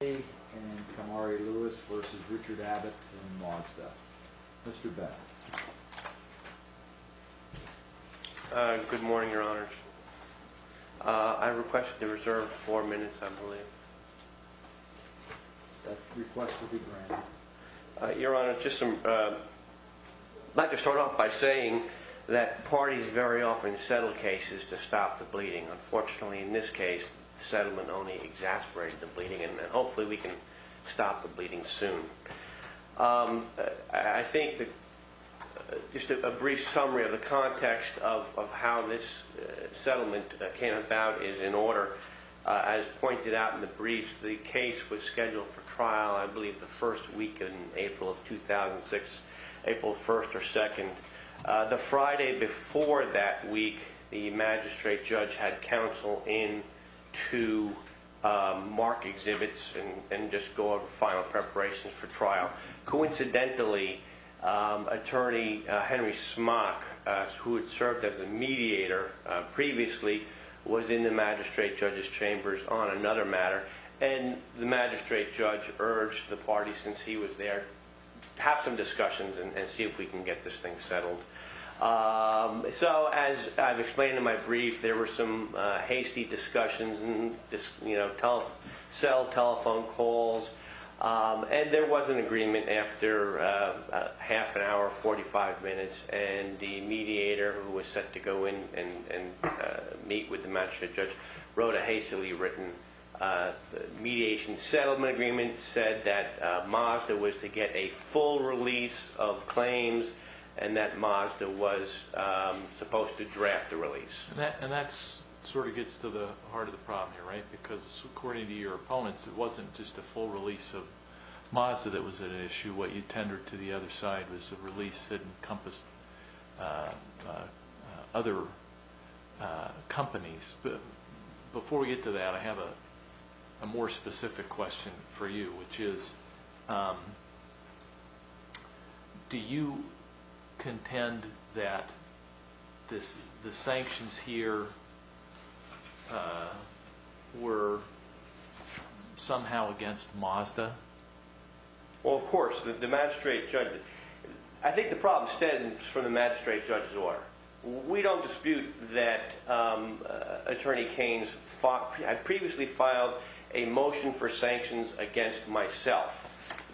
v. Richard Abbott and Modstaff. Mr. Babbitt. Good morning, Your Honors. I requested to reserve four minutes, I believe. Your Honor, I'd like to start off by saying that parties very often settle cases to stop the bleeding. Unfortunately, in this case, the settlement only exasperated the bleeding, and hopefully we can stop the bleeding soon. I think that just a brief summary of the context of how this settlement came about is in order. As pointed out in the briefs, the case was scheduled for trial, I believe, the first week in April of 2006, April 1st or 2nd. The Friday before that week, the magistrate judge had counsel in to mark exhibits and just go over final preparations for trial. Coincidentally, attorney Henry Smock, who had served as a mediator previously, was in the magistrate judge's chambers on another matter, and the magistrate judge urged the party, since he was there, to have some discussions and see if we can get this thing settled. As I've explained in my brief, there were some hasty discussions, cell telephone calls, and there was an agreement after half an hour, 45 minutes, and the mediator, who was set to go in and meet with the magistrate judge, wrote a hastily written mediation settlement agreement, and it said that Mazda was to get a full release of claims and that Mazda was supposed to draft the release. And that sort of gets to the heart of the problem here, right? Because according to your opponents, it wasn't just a full release of Mazda that was an issue. What you tendered to the other side was a release that encompassed other companies. Before we get to that, I have a more specific question for you, which is, do you contend that the sanctions here were somehow against Mazda? Well, of course, the magistrate judge... I think the problem stems from the magistrate judge's order. We don't dispute that Attorney Keynes previously filed a motion for sanctions against myself.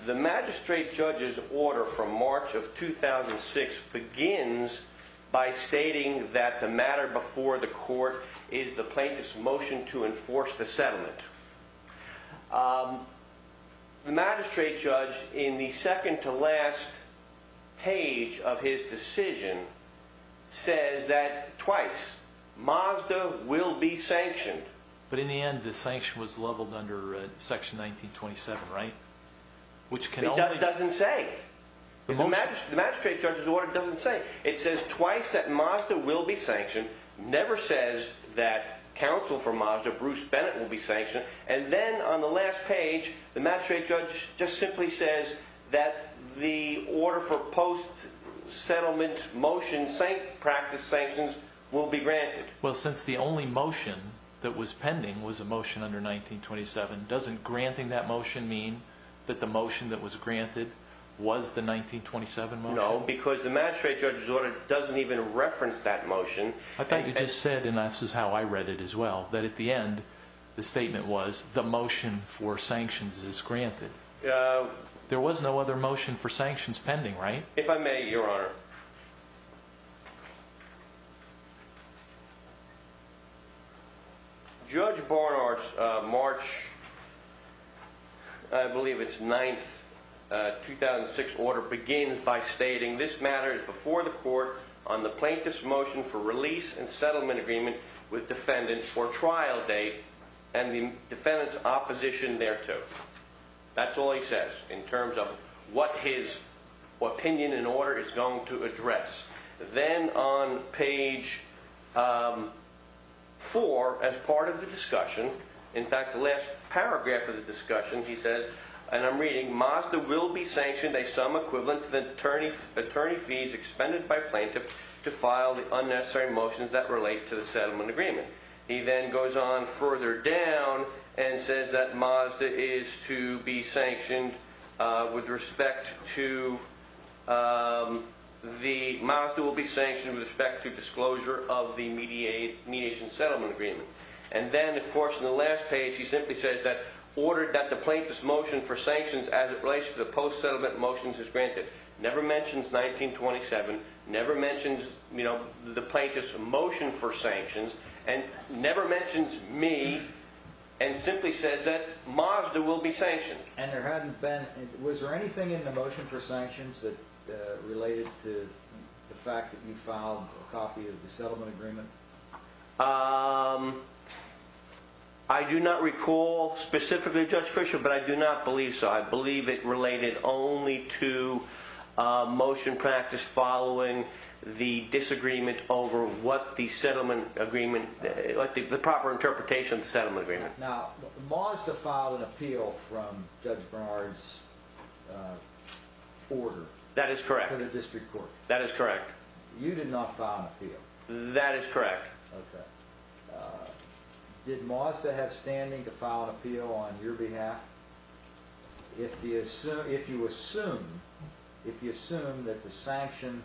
The magistrate judge's order from March of 2006 begins by stating that the matter before the court is the plaintiff's motion to enforce the settlement. The magistrate judge, in the second to last page of his decision, says that twice, Mazda will be sanctioned. But in the end, the sanction was leveled under Section 1927, right? It doesn't say. The magistrate judge's order doesn't say. It says twice that Mazda will be sanctioned. It never says that counsel for Mazda, Bruce Bennett, will be sanctioned. And then, on the last page, the magistrate judge just simply says that the order for post-settlement motion practice sanctions will be granted. Well, since the only motion that was pending was a motion under 1927, doesn't granting that motion mean that the motion that was granted was the 1927 motion? No, because the magistrate judge's order doesn't even reference that motion. I thought you just said, and this is how I read it as well, that at the end, the statement was, the motion for sanctions is granted. There was no other motion for sanctions pending, right? If I may, Your Honor. Judge Barnard's March, I believe it's 9th, 2006 order begins by stating, this matter is before the court on the plaintiff's motion for release and settlement agreement with defendants for trial date and the defendant's opposition thereto. That's all he says in terms of what his opinion and order is going to address. Then, on page 4, as part of the discussion, in fact, the last paragraph of the discussion, he says, and I'm reading, Mazda will be sanctioned a sum equivalent to the attorney fees expended by plaintiff to file the unnecessary motions that relate to the settlement agreement. He then goes on further down and says that Mazda is to be sanctioned with respect to the disclosure of the mediation settlement agreement. Then, of course, in the last page, he simply says that ordered that the plaintiff's motion for sanctions as it relates to the post-settlement motions is granted. Never mentions 1927, never mentions the plaintiff's motion for sanctions, and never mentions me, and simply says that Mazda will be sanctioned. Was there anything in the motion for sanctions that related to the fact that you filed a copy of the settlement agreement? I do not recall specifically, Judge Fischer, but I do not believe so. I believe it related only to motion practice following the disagreement over what the settlement agreement, the proper interpretation of the settlement agreement. Now, Mazda filed an appeal from Judge Bernard's order to the district court. That is correct. You did not file an appeal. That is correct. Okay. Did Mazda have standing to file an appeal on your behalf? If you assume that the sanction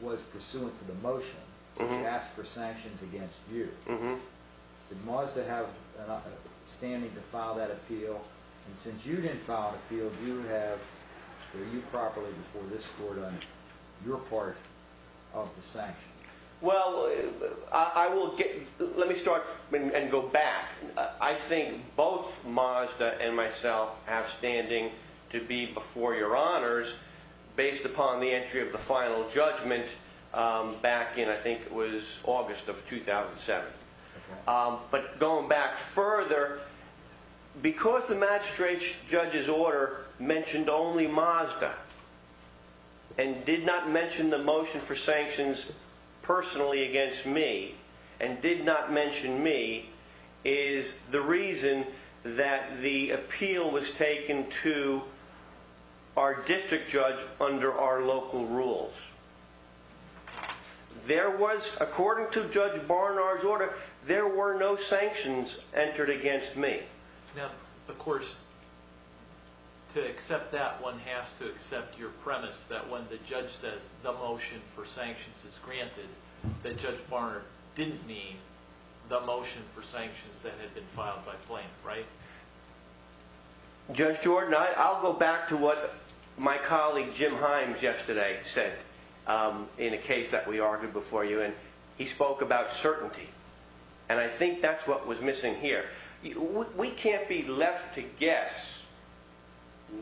was pursuant to the motion, if he asked for sanctions against you, did Mazda have standing to file that appeal? Since you did not file an appeal, were you properly before this court on your part of the sanction? Well, let me start and go back. I think both Mazda and myself have standing to be before your honors based upon the entry of the final judgment back in, I think it was August of 2007. Okay. But going back further, because the magistrate judge's order mentioned only Mazda and did not mention the motion for sanctions personally against me, and did not mention me, is the reason that the appeal was taken to our district judge under our local rules. There was, according to Judge Bernard's order, there were no sanctions entered against me. Now, of course, to accept that, one has to accept your premise that when the judge says the motion for sanctions is granted, that Judge Bernard didn't mean the motion for sanctions that had been filed by flame, right? Judge Jordan, I'll go back to what my colleague Jim Himes yesterday said in a case that we argued before you, and he spoke about certainty, and I think that's what was missing here. We can't be left to guess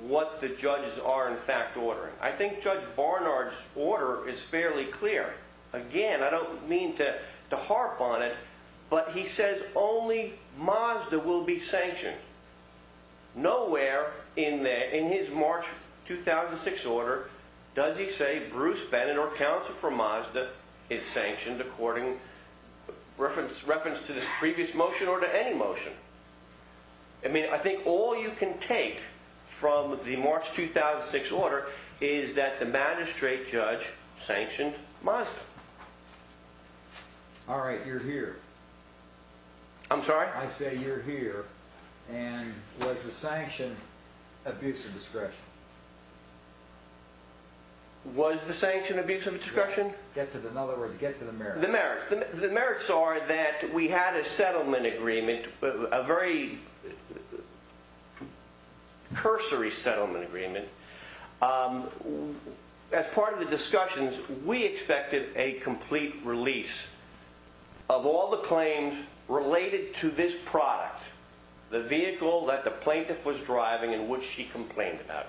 what the judges are in fact ordering. I think Judge Bernard's order is fairly clear. Again, I don't mean to harp on it, but he says only Mazda will be sanctioned. Nowhere in his March 2006 order does he say Bruce Bennett or counsel for Mazda is sanctioned according, reference to this previous motion or to any motion. I mean, I think all you can take from the March 2006 order is that the magistrate judge sanctioned Mazda. Alright, you're here. I'm sorry? I say you're here, and was the sanction abuse of discretion? Was the sanction abuse of discretion? In other words, get to the merits. The merits are that we had a settlement agreement, a very cursory settlement agreement. As part of the discussions, we expected a complete release of all the claims related to this product, the vehicle that the plaintiff was driving and which she complained about.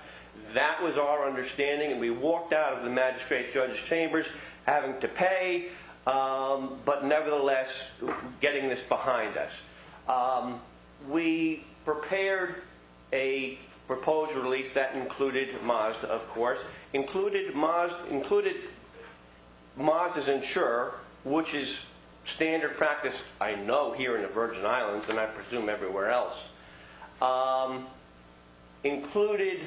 That was our understanding, and we walked out of the magistrate judge's chambers having to pay, but nevertheless getting this behind us. We prepared a proposed release that included Mazda, of course. Included Mazda's insurer, which is standard practice I know here in the Virgin Islands, and I presume everywhere else. Included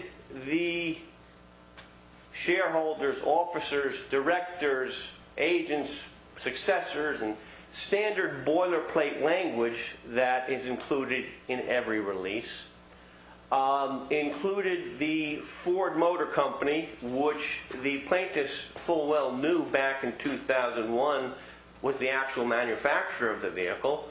the shareholders, officers, directors, agents, successors, and standard boilerplate language that is included in every release. Included the Ford Motor Company, which the plaintiff's full well knew back in 2001 was the actual manufacturer of the vehicle.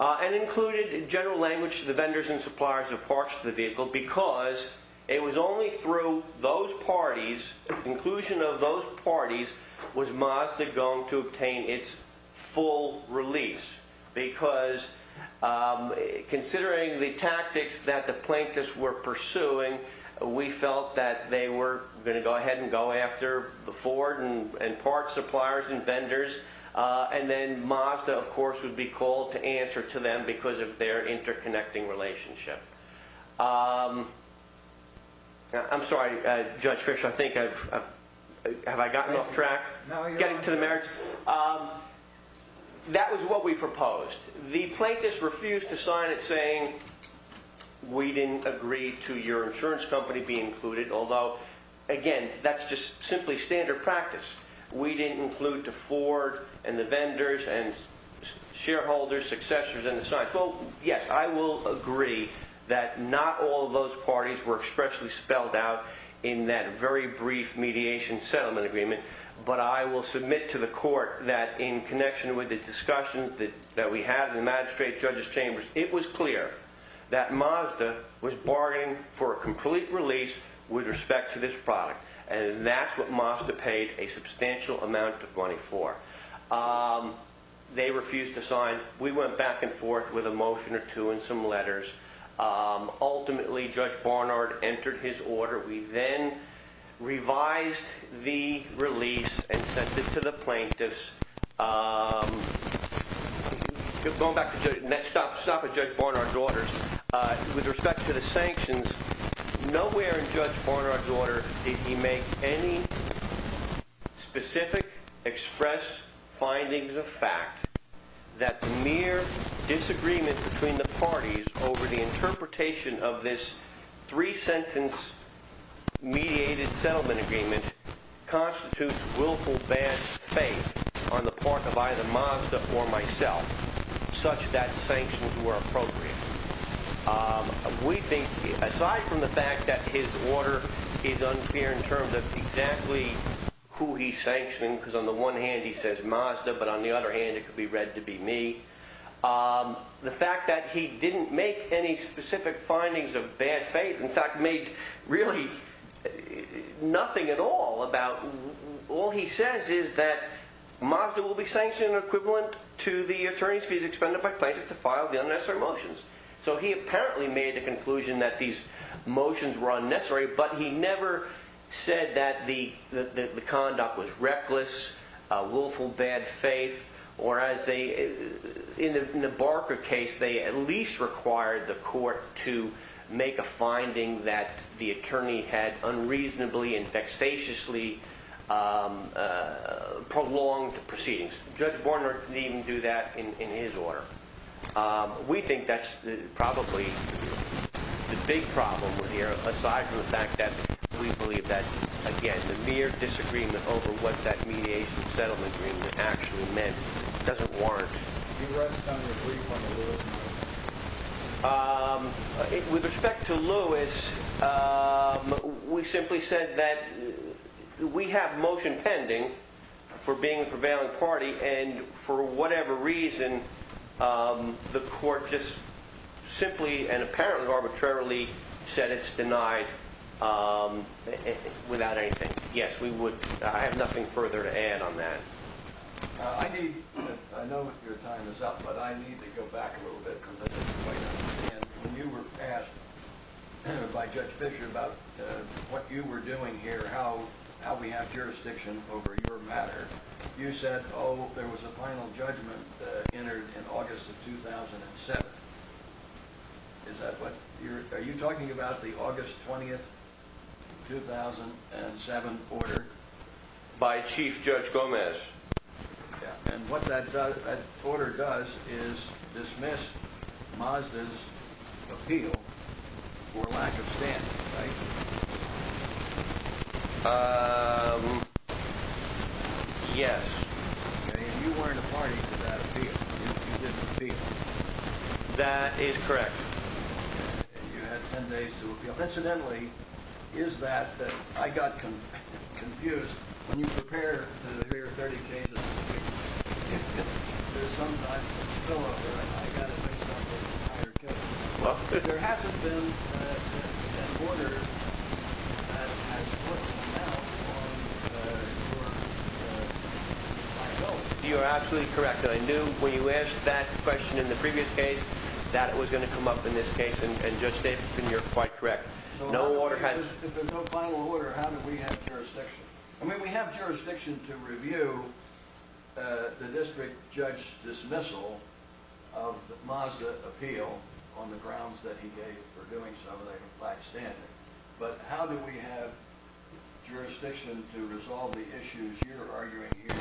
And included in general language the vendors and suppliers of parts to the vehicle because it was only through those parties, inclusion of those parties, was Mazda going to obtain its full release. Because considering the tactics that the plaintiffs were pursuing, we felt that they were going to go ahead and go after the Ford and parts suppliers and vendors. And then Mazda, of course, would be called to answer to them because of their interconnecting relationship. I'm sorry, Judge Fischer, I think I've gotten off track. Getting to the merits. That was what we proposed. The plaintiffs refused to sign it saying we didn't agree to your insurance company be included. Although, again, that's just simply standard practice. We didn't include the Ford and the vendors and shareholders, successors, and the signs. Well, yes, I will agree that not all of those parties were expressly spelled out in that very brief mediation settlement agreement. But I will submit to the court that in connection with the discussions that we had in the magistrate, judges chambers, it was clear that Mazda was bargaining for a complete release with respect to this product. And that's what Mazda paid a substantial amount of money for. They refused to sign. We went back and forth with a motion or two and some letters. Ultimately, Judge Barnard entered his order. We then revised the release and sent it to the plaintiffs. Going back to Judge Barnard's orders, with respect to the sanctions, nowhere in Judge Barnard's order did he make any specific express findings of fact that the mere disagreement between the parties over the interpretation of this three-sentence mediated settlement agreement constitutes willful bad faith on the part of either Mazda or myself, such that sanctions were appropriate. Aside from the fact that his order is unclear in terms of exactly who he's sanctioning, because on the one hand he says Mazda, but on the other hand it could be read to be me, the fact that he didn't make any specific findings of bad faith, in fact made really nothing at all about all he says is that Mazda will be sanctioned equivalent to the attorney's fees expended by plaintiffs to file the unnecessary motions. So he apparently made the conclusion that these motions were unnecessary, but he never said that the conduct was reckless, willful bad faith, whereas in the Barker case they at least required the court to make a finding that the attorney had unreasonably and vexatiously prolonged proceedings. Judge Barnard didn't even do that in his order. We think that's probably the big problem here, aside from the fact that we believe that, again, the mere disagreement over what that mediation settlement agreement actually meant doesn't warrant. Do you rest on your grief on the Lewis case? With respect to Lewis, we simply said that we have motion pending for being a prevailing party and for whatever reason the court just simply and apparently arbitrarily said it's denied without anything. Yes, I have nothing further to add on that. I know your time is up, but I need to go back a little bit. When you were asked by Judge Fisher about what you were doing here, how we have jurisdiction over your matter, you said, oh, there was a final judgment entered in August of 2007. Are you talking about the August 20th, 2007 order? By Chief Judge Gomez. And what that order does is dismiss Mazda's appeal for lack of standing, right? Yes. You weren't a party to that appeal. You didn't appeal. That is correct. You had 10 days to appeal. Incidentally, is that I got confused. When you prepare to hear 30 cases, if there's some type of spillover, I got it mixed up with a higher case. There hasn't been an order that has put an out on your five votes. You are absolutely correct, and I knew when you asked that question in the previous case that it was going to come up in this case, and Judge Davidson, you're quite correct. If there's no final order, how do we have jurisdiction? I mean, we have jurisdiction to review the district judge's dismissal of Mazda's appeal on the grounds that he gave for doing something like a flat standing. But how do we have jurisdiction to resolve the issues you're arguing here?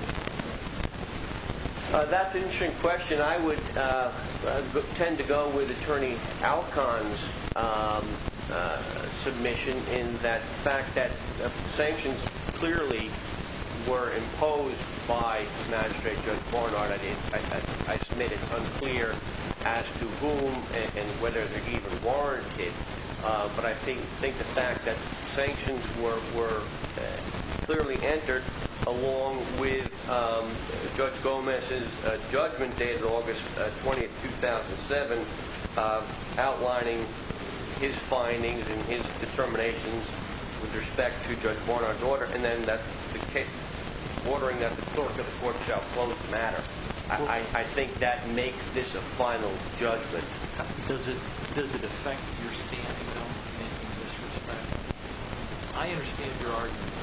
That's an interesting question. I would tend to go with Attorney Alcon's submission in that fact that sanctions clearly were imposed by Judge Barnard. I submit it's unclear as to whom and whether they're even warranted, but I think the fact that sanctions were clearly entered along with Judge Gomez's judgment dated August 20, 2007, outlining his findings and his determinations with respect to Judge Barnard's order, and then ordering that the clerk of the court shall close matter, I think that makes this a final judgment. But does it affect your standing, though, in this respect? I understand your argument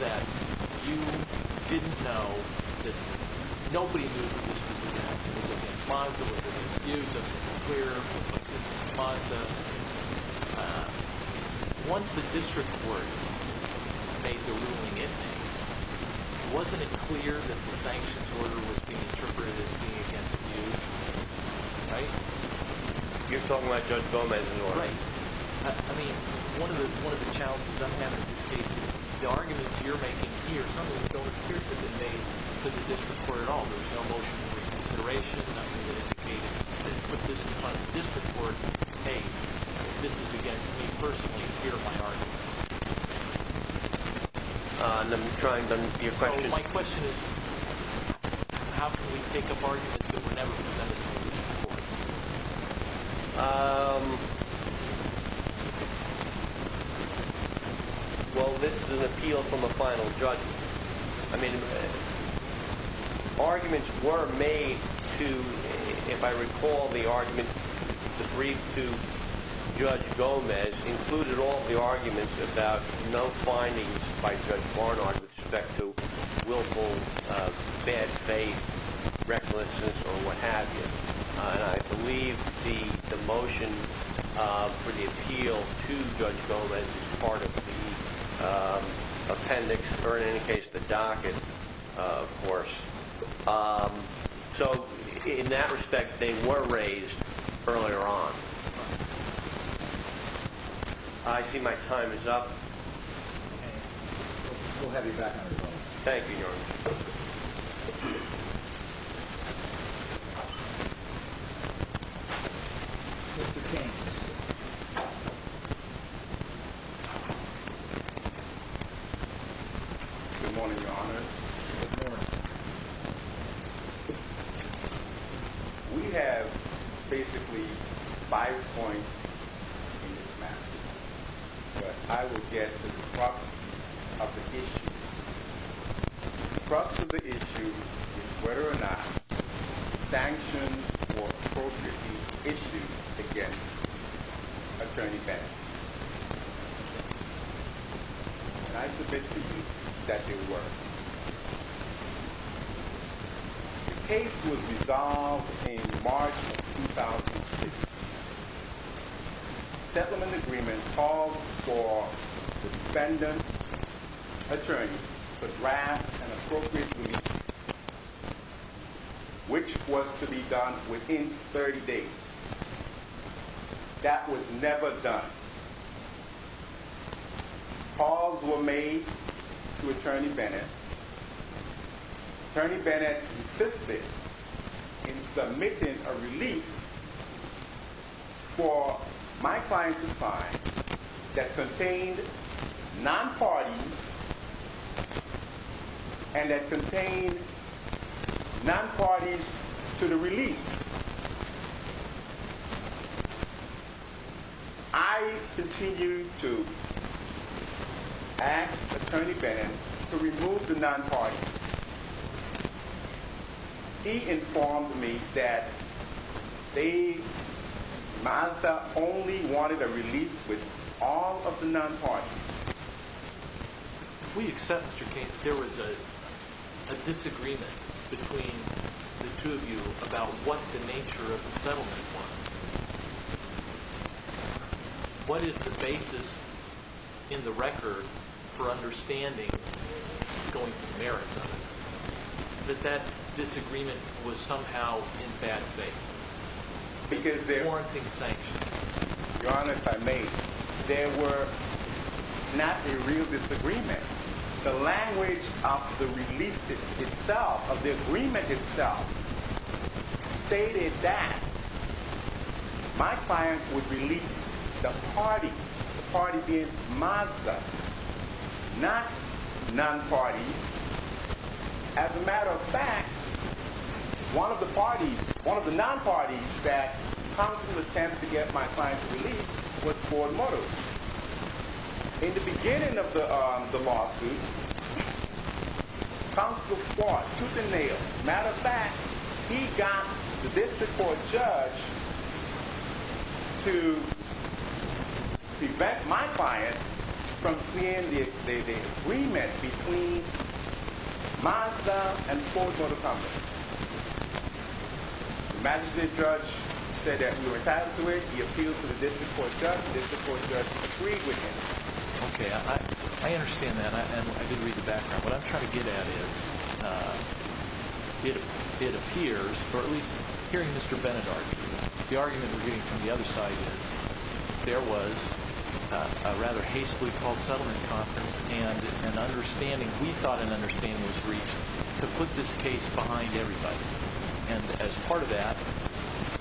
that you didn't know that nobody knew that this was an accident. It was against Mazda. It was against you. It's unclear. It was against Mazda. Once the district court made the ruling, wasn't it clear that the sanctions order was being interpreted as being against you? You're talking about Judge Gomez's order? Right. I mean, one of the challenges I'm having with this case is the arguments you're making here Some of them don't appear to have been made to the district court at all. There's no motion for reconsideration, nothing to indicate that you put this in front of the district court and say, hey, this is against me personally here in my argument. So my question is, how can we pick up arguments that were never presented to the district court? Um, well, this is an appeal from a final judgment. I mean, arguments were made to, if I recall the argument, the brief to Judge Gomez included all the arguments about no findings by Judge Barnard with respect to willful bad faith, recklessness, or what have you. And I believe the motion for the appeal to Judge Gomez is part of the appendix, or in any case, the docket, of course. So in that respect, they were raised earlier on. I see my time is up. We'll have you back, everybody. Thank you, Your Honor. Mr. King. Good morning, Your Honor. Good morning. We have basically five points in this matter, but I will get to the crux of the issue. The crux of the issue is whether or not sanctions were appropriately issued against Attorney Bennett. And I submit to you that they were. The case was resolved in March of 2006. Settlement agreement called for the defendant attorney to draft an appropriate release, which was to be done within 30 days. That was never done. Calls were made to Attorney Bennett. Attorney Bennett insisted in submitting a release for my client to sign that contained non-parties and that contained non-parties to the release. I continue to ask Attorney Bennett to remove the non-parties. He informed me that Mazda only wanted a release with all of the non-parties. If we accept, Mr. King, that there was a disagreement between the two of you about what the nature of the settlement was, what is the basis in the record for understanding going from the merits of it, that that disagreement was somehow in bad faith, warranting sanctions? Your Honor, if I may, there were not a real disagreement. The language of the release itself, of the agreement itself, stated that my client would release the party, the party being Mazda, not non-parties. As a matter of fact, one of the parties, one of the non-parties that counsel attempted to get my client to release was Ford Motors. In the beginning of the lawsuit, counsel fought tooth and nail. As a matter of fact, he got the district court judge to prevent my client from seeing the agreement between Mazda and Ford Motors. The magistrate judge said that we were tied to it. He appealed to the district court judge. The district court judge agreed with him. Okay, I understand that, and I did read the background. What I'm trying to get at is, it appears, or at least hearing Mr. Bennett argue, the argument we're getting from the other side is there was a rather hastily called settlement conference, and we thought an understanding was reached to put this case behind everybody. As part of that,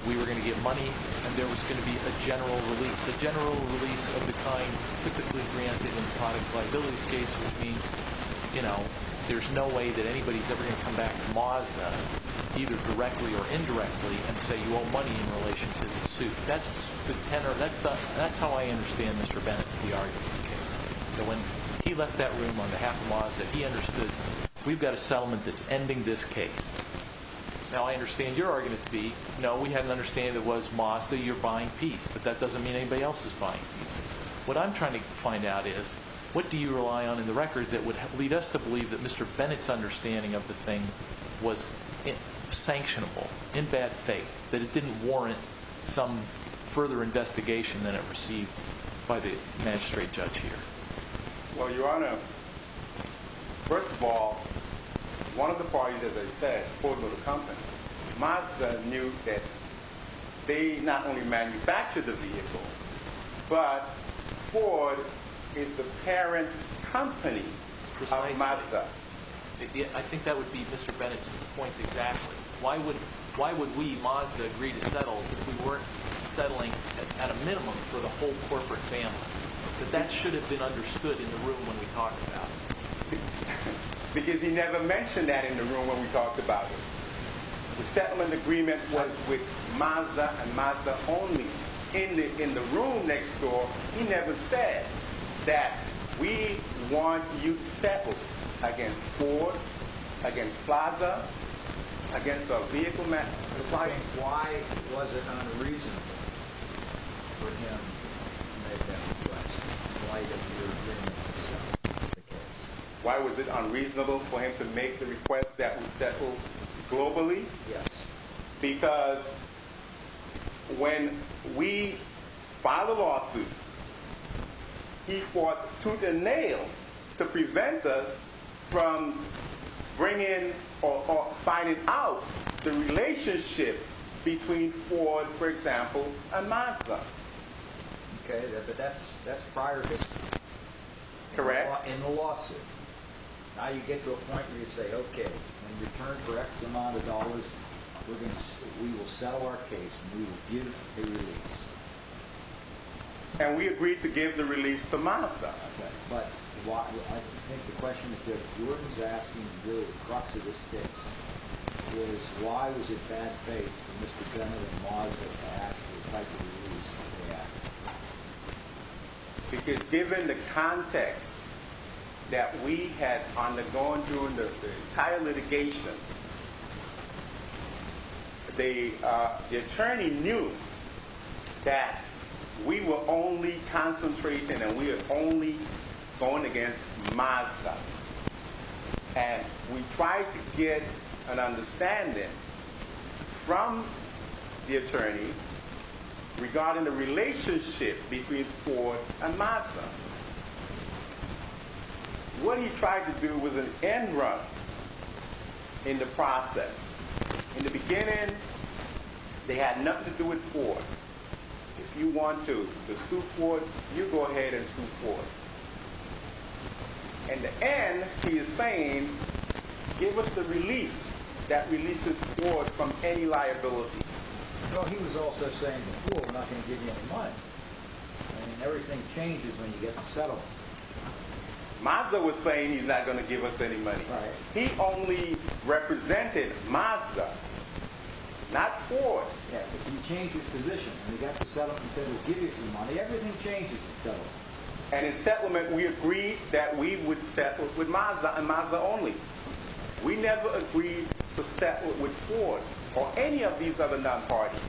we were going to get money, and there was going to be a general release, a general release of the kind typically granted in a product liabilities case, which means there's no way that anybody's ever going to come back to Mazda, either directly or indirectly, and say you owe money in relation to the suit. That's how I understand, Mr. Bennett, the argument in this case. When he left that room on behalf of Mazda, he understood, we've got a settlement that's ending this case. Now, I understand your argument to be, no, we had an understanding that it was Mazda, you're buying peace, but that doesn't mean anybody else is buying peace. What I'm trying to find out is, what do you rely on in the record that would lead us to believe that Mr. Bennett's understanding of the thing was sanctionable, in bad faith, that it didn't warrant some further investigation than it received by the magistrate judge here? Well, Your Honor, first of all, one of the parties, as I said, Ford Motor Company, Mazda knew that they not only manufactured the vehicle, but Ford is the parent company of Mazda. I think that would be Mr. Bennett's point exactly. Why would we, Mazda, agree to settle if we weren't settling at a minimum for the whole corporate family? That should have been understood in the room when we talked about it. Because he never mentioned that in the room when we talked about it. The settlement agreement was with Mazda and Mazda only. In the room next door, he never said that we want you settled against Ford, against Mazda, against a vehicle manufacturer. Why was it unreasonable for him to make that request? Why was it unreasonable for him to make the request that we settle globally? Yes. Because when we filed a lawsuit, he fought tooth and nail to prevent us from bringing or finding out the relationship between Ford, for example, and Mazda. Okay, but that's prior history. Correct. In the lawsuit. Now you get to a point where you say, okay, in return for X amount of dollars, we will settle our case and we will give the release. And we agreed to give the release to Mazda. Okay, but I think the question that Jordan is asking to deal with the crux of this case is why was it bad faith for Mr. Bennett and Mazda to ask for the type of release that they asked for? Because given the context that we had undergone during the entire litigation, the attorney knew that we were only concentrating and we are only going against Mazda. And we tried to get an understanding from the attorney regarding the relationship between Ford and Mazda. What he tried to do was an end run in the process. In the beginning, they had nothing to do with Ford. If you want to sue Ford, you go ahead and sue Ford. In the end, he is saying, give us the release that releases Ford from any liability. Well, he was also saying before, we're not going to give you any money. And everything changes when you get to settle. Mazda was saying he's not going to give us any money. Right. He only represented Mazda, not Ford. Yeah, but he changed his position. When he got to settle, he said, we'll give you some money. Everything changes in settling. And in settlement, we agreed that we would settle with Mazda and Mazda only. We never agreed to settle with Ford or any of these other non-parties.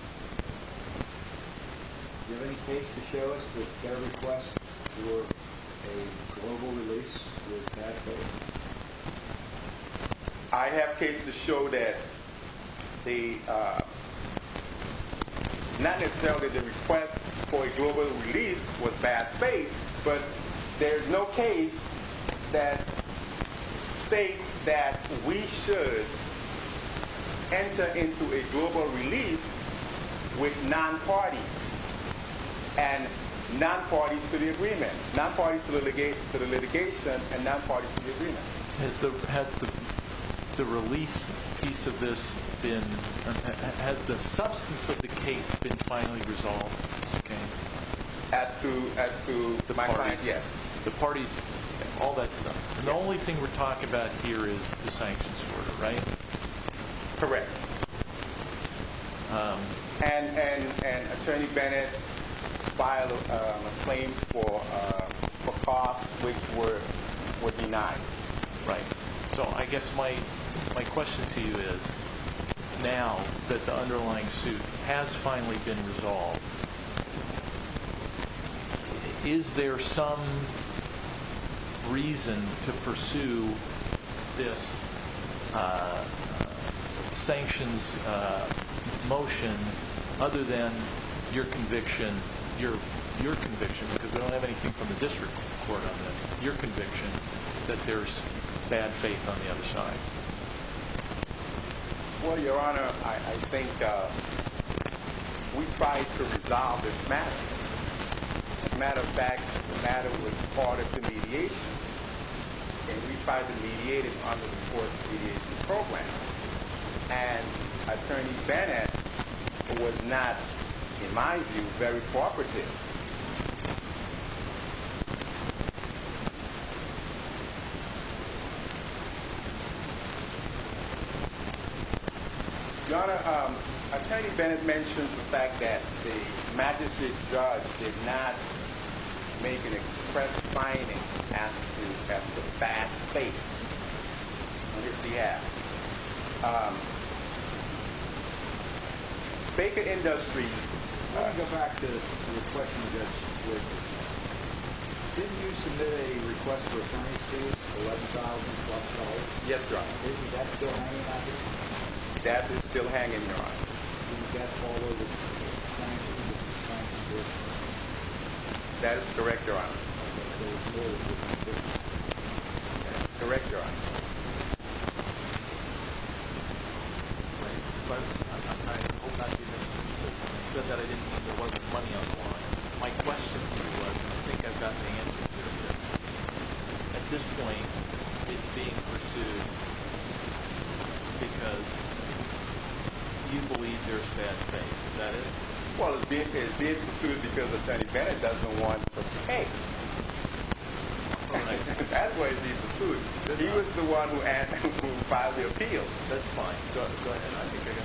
Do you have any case to show us that their request for a global release was bad faith? I have case to show that not necessarily the request for a global release was bad faith. But there's no case that states that we should enter into a global release with non-parties and non-parties to the agreement. Non-parties to the litigation and non-parties to the agreement. Has the substance of the case been finally resolved? As to my client, yes. The parties, all that stuff. The only thing we're talking about here is the sanctions order, right? Correct. And Attorney Bennett filed a claim for costs which were denied. Right. So I guess my question to you is, now that the underlying suit has finally been resolved, is there some reason to pursue this sanctions motion other than your conviction, because we don't have anything from the district court on this, your conviction that there's bad faith on the other side? Well, Your Honor, I think we tried to resolve this matter. As a matter of fact, the matter was part of the mediation, and we tried to mediate it under the court's mediation program. And Attorney Bennett was not, in my view, very cooperative. Your Honor, Attorney Bennett mentioned the fact that the magistrate judge did not make an express finding as to the bad faith on his behalf. Baker Industries. Let me go back to the question you just raised. Didn't you submit a request for a fine of $11,000-plus? Yes, Your Honor. Isn't that still hanging on you? That is still hanging, Your Honor. Isn't that all of the sanctions that you have signed against us? That is correct, Your Honor. Okay. That is correct, Your Honor. Right. But I hope I didn't mislead you. I said that I didn't mean there wasn't money on the line. My question to you was, and I think I've got the answer to this, at this point it's being pursued because you believe there's bad faith. Is that it? Well, it's being pursued because Attorney Bennett doesn't want the pain. That's why it's being pursued. He was the one who filed the appeal. That's fine. Go ahead. I think I got the answer to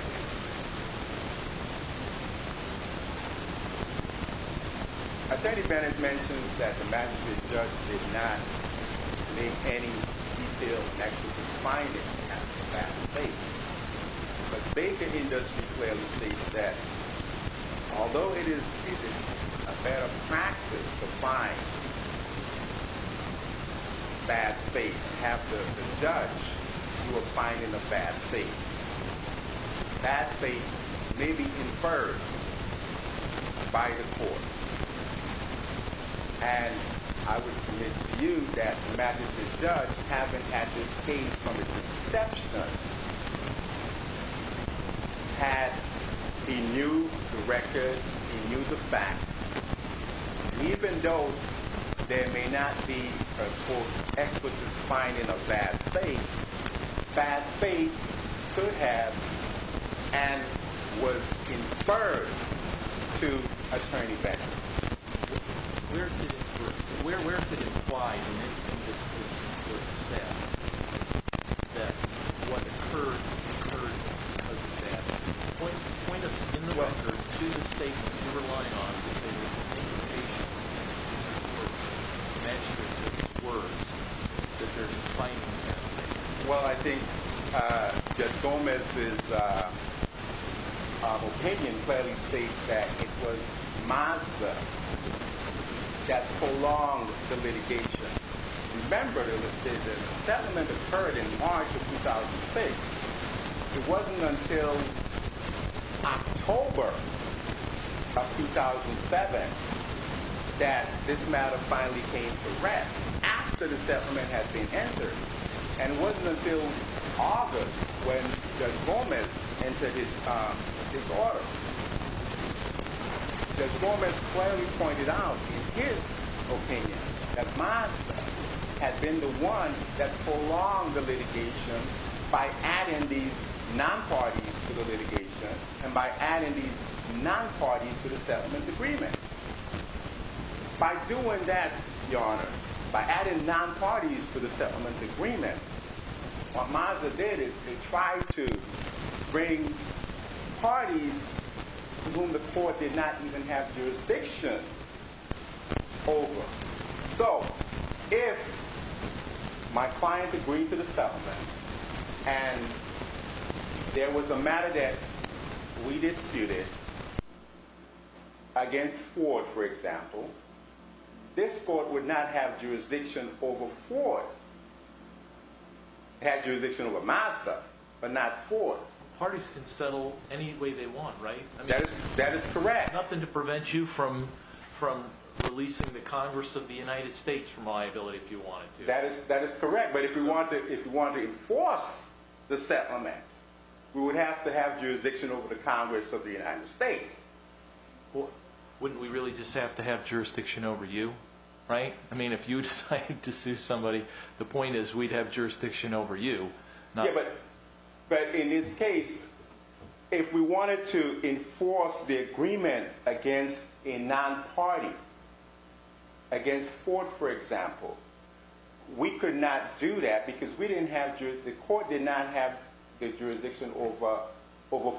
that. Attorney Bennett mentioned that the Massachusetts judge did not make any detailed efforts to find him having a bad faith. But Baker Industries clearly stated that although it is a better practice to find a bad faith after the judge, you are finding a bad faith. Bad faith may be inferred by the court. And I would submit to you that the Massachusetts judge, having had this case from its inception, had, he knew the record, he knew the facts. And even though there may not be a court expert to find in a bad faith, bad faith could have and was inferred to Attorney Bennett. Where is it implied in what you said that what occurred occurred because of that? Point us in the record to the statements you're relying on to say there's a negligent use of the words. You mentioned in those words that there's a fight in that case. Well, I think Judge Gomez's opinion clearly states that it was Mazda that prolonged the litigation. Remember, the settlement occurred in March of 2006. It wasn't until October of 2007 that this matter finally came to rest after the settlement had been entered. And it wasn't until August when Judge Gomez entered his order. Judge Gomez clearly pointed out in his opinion that Mazda had been the one that by adding these non-parties to the litigation and by adding these non-parties to the settlement agreement. By doing that, Your Honors, by adding non-parties to the settlement agreement, what Mazda did is they tried to bring parties whom the court did not even have jurisdiction over. So if my client agreed to the settlement and there was a matter that we disputed against Ford, for example, this court would not have jurisdiction over Ford. It had jurisdiction over Mazda, but not Ford. Parties can settle any way they want, right? That is correct. Nothing to prevent you from releasing the Congress of the United States from liability if you wanted to. That is correct, but if we wanted to enforce the settlement, we would have to have jurisdiction over the Congress of the United States. Wouldn't we really just have to have jurisdiction over you, right? I mean, if you decided to sue somebody, the point is we'd have jurisdiction over you. But in this case, if we wanted to enforce the agreement against a non-party, against Ford, for example, we could not do that because the court did not have jurisdiction over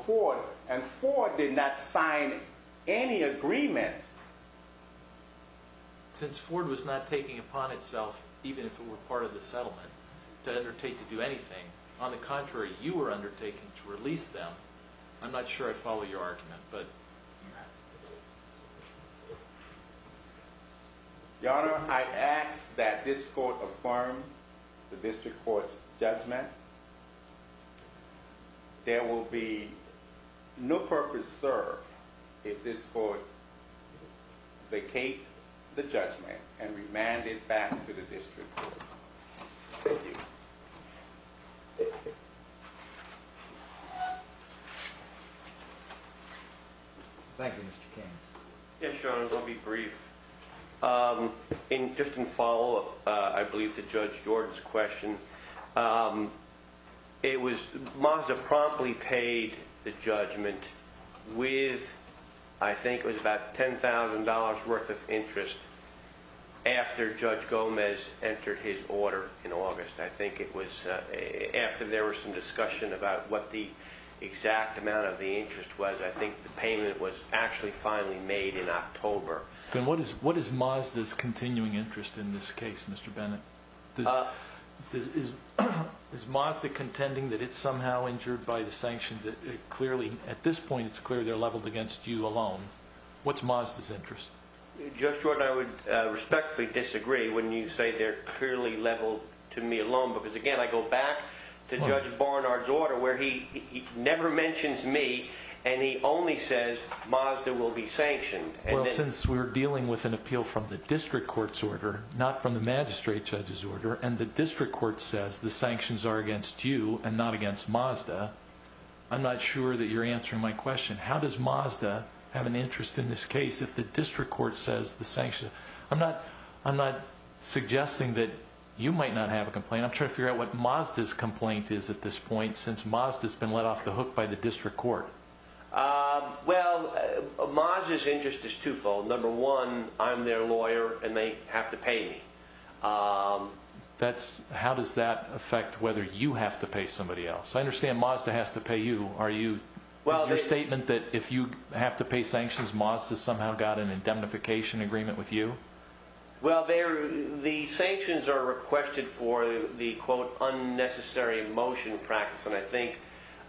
Ford, and Ford did not sign any agreement. Since Ford was not taking upon itself, even if it were part of the settlement, to undertake to do anything. On the contrary, you were undertaking to release them. I'm not sure I follow your argument, but... Your Honor, I ask that this court affirm the district court's judgment. There will be no purpose served if this court vacate the judgment and remand it back to the district court. Thank you. Thank you, Mr. Cairns. Yes, Your Honor, I'll be brief. Just in follow-up, I believe, to Judge Jordan's question, Mazda promptly paid the judgment with, I think it was about $10,000 worth of interest. After Judge Gomez entered his order in August, I think it was, after there was some discussion about what the exact amount of the interest was, I think the payment was actually finally made in October. Then what is Mazda's continuing interest in this case, Mr. Bennett? Is Mazda contending that it's somehow injured by the sanctions? At this point, it's clear they're leveled against you alone. What's Mazda's interest? Judge Jordan, I would respectfully disagree when you say they're clearly leveled to me alone because, again, I go back to Judge Barnard's order where he never mentions me and he only says Mazda will be sanctioned. Well, since we're dealing with an appeal from the district court's order, not from the magistrate judge's order, and the district court says the sanctions are against you and not against Mazda, I'm not sure that you're answering my question. How does Mazda have an interest in this case if the district court says the sanctions? I'm not suggesting that you might not have a complaint. I'm trying to figure out what Mazda's complaint is at this point since Mazda's been let off the hook by the district court. Well, Mazda's interest is twofold. Number one, I'm their lawyer and they have to pay me. How does that affect whether you have to pay somebody else? I understand Mazda has to pay you. Is your statement that if you have to pay sanctions, Mazda's somehow got an indemnification agreement with you? Well, the sanctions are requested for the, quote, unnecessary motion practice, and I think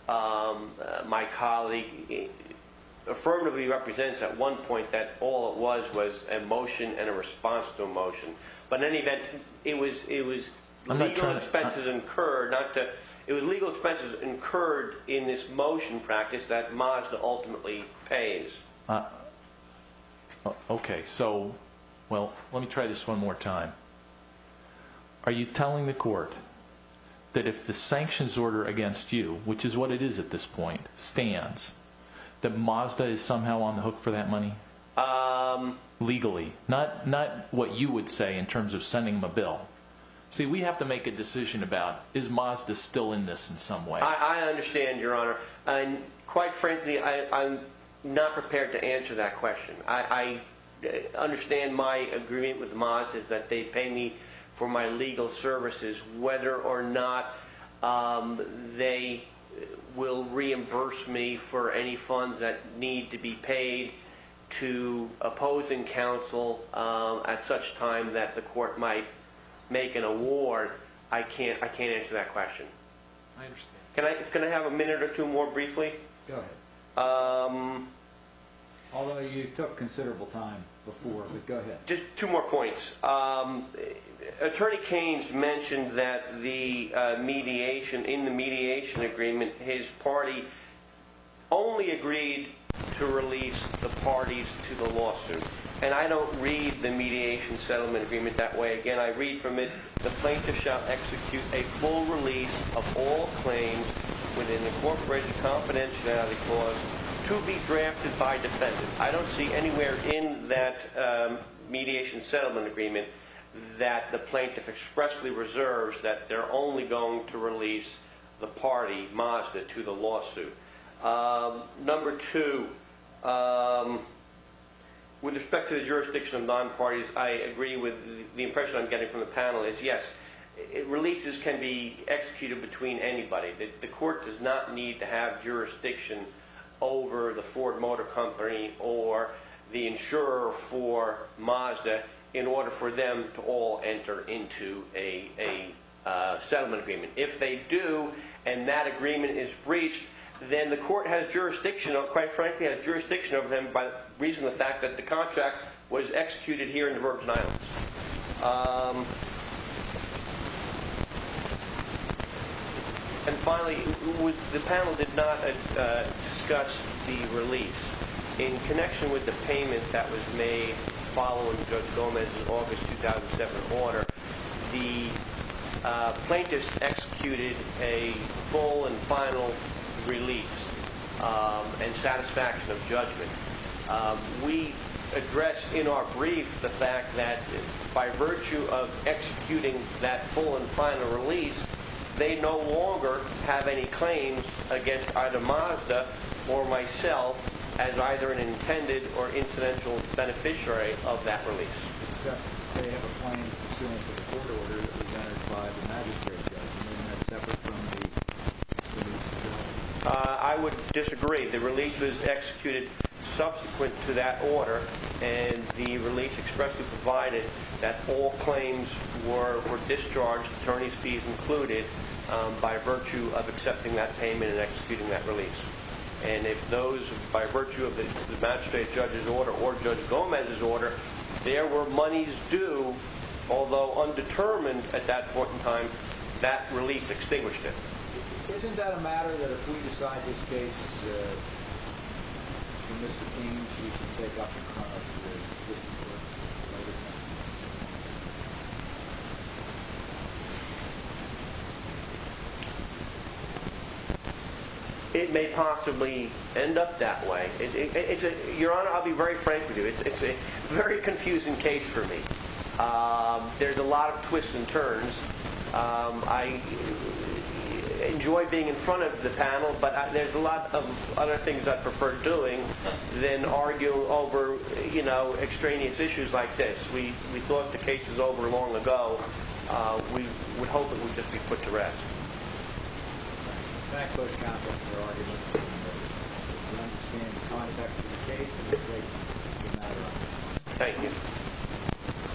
my colleague affirmatively represents at one point that all it was was a motion and a response to a motion. But in any event, it was legal expenses incurred in this motion practice that Mazda ultimately pays. Okay, so let me try this one more time. Are you telling the court that if the sanctions order against you, which is what it is at this point, stands, that Mazda is somehow on the hook for that money legally? Not what you would say in terms of sending them a bill. See, we have to make a decision about is Mazda still in this in some way. I understand, Your Honor. Quite frankly, I'm not prepared to answer that question. I understand my agreement with Mazda is that they pay me for my legal services, whether or not they will reimburse me for any funds that need to be paid to opposing counsel at such time that the court might make an award, I can't answer that question. I understand. Can I have a minute or two more briefly? Go ahead. Although you took considerable time before, but go ahead. Just two more points. Attorney Keynes mentioned that in the mediation agreement, his party only agreed to release the parties to the lawsuit, and I don't read the mediation settlement agreement that way. Again, I read from it, the plaintiff shall execute a full release of all claims within the corporation confidentiality clause to be drafted by defendant. I don't see anywhere in that mediation settlement agreement that the plaintiff expressly reserves that they're only going to release the party, Mazda, to the lawsuit. Number two, with respect to the jurisdiction of non-parties, I agree with the impression I'm getting from the panel is yes, releases can be executed between anybody. The court does not need to have jurisdiction over the Ford Motor Company or the insurer for Mazda in order for them to all enter into a settlement agreement. If they do and that agreement is breached, then the court has jurisdiction, quite frankly, has jurisdiction over them by reason of the fact that the contract was executed here in the Virgin Islands. And finally, the panel did not discuss the release. In connection with the payment that was made following Judge Gomez's August 2007 order, the plaintiffs executed a full and final release and satisfaction of judgment. We addressed in our brief the fact that by virtue of executing that full and final release, they no longer have any claims against either Mazda or myself as either an intended or incidental beneficiary of that release. Except they have a claim to the court order that was ratified by the magistrate judge and that's separate from the release itself. I would disagree. The release was executed subsequent to that order and the release expressly provided that all claims were discharged, attorney's fees included, by virtue of accepting that payment and executing that release. And if those, by virtue of the magistrate judge's order or Judge Gomez's order, there were monies due, although undetermined at that point in time, that release extinguished it. Isn't that a matter that if we decide this case, the misdemeanors we should take up in front of the jury? It may possibly end up that way. Your Honor, I'll be very frank with you. It's a very confusing case for me. There's a lot of twists and turns. I enjoy being in front of the panel, but there's a lot of other things I prefer doing than argue over extraneous issues like this. We thought the case was over long ago. We hope it will just be put to rest. Thank you.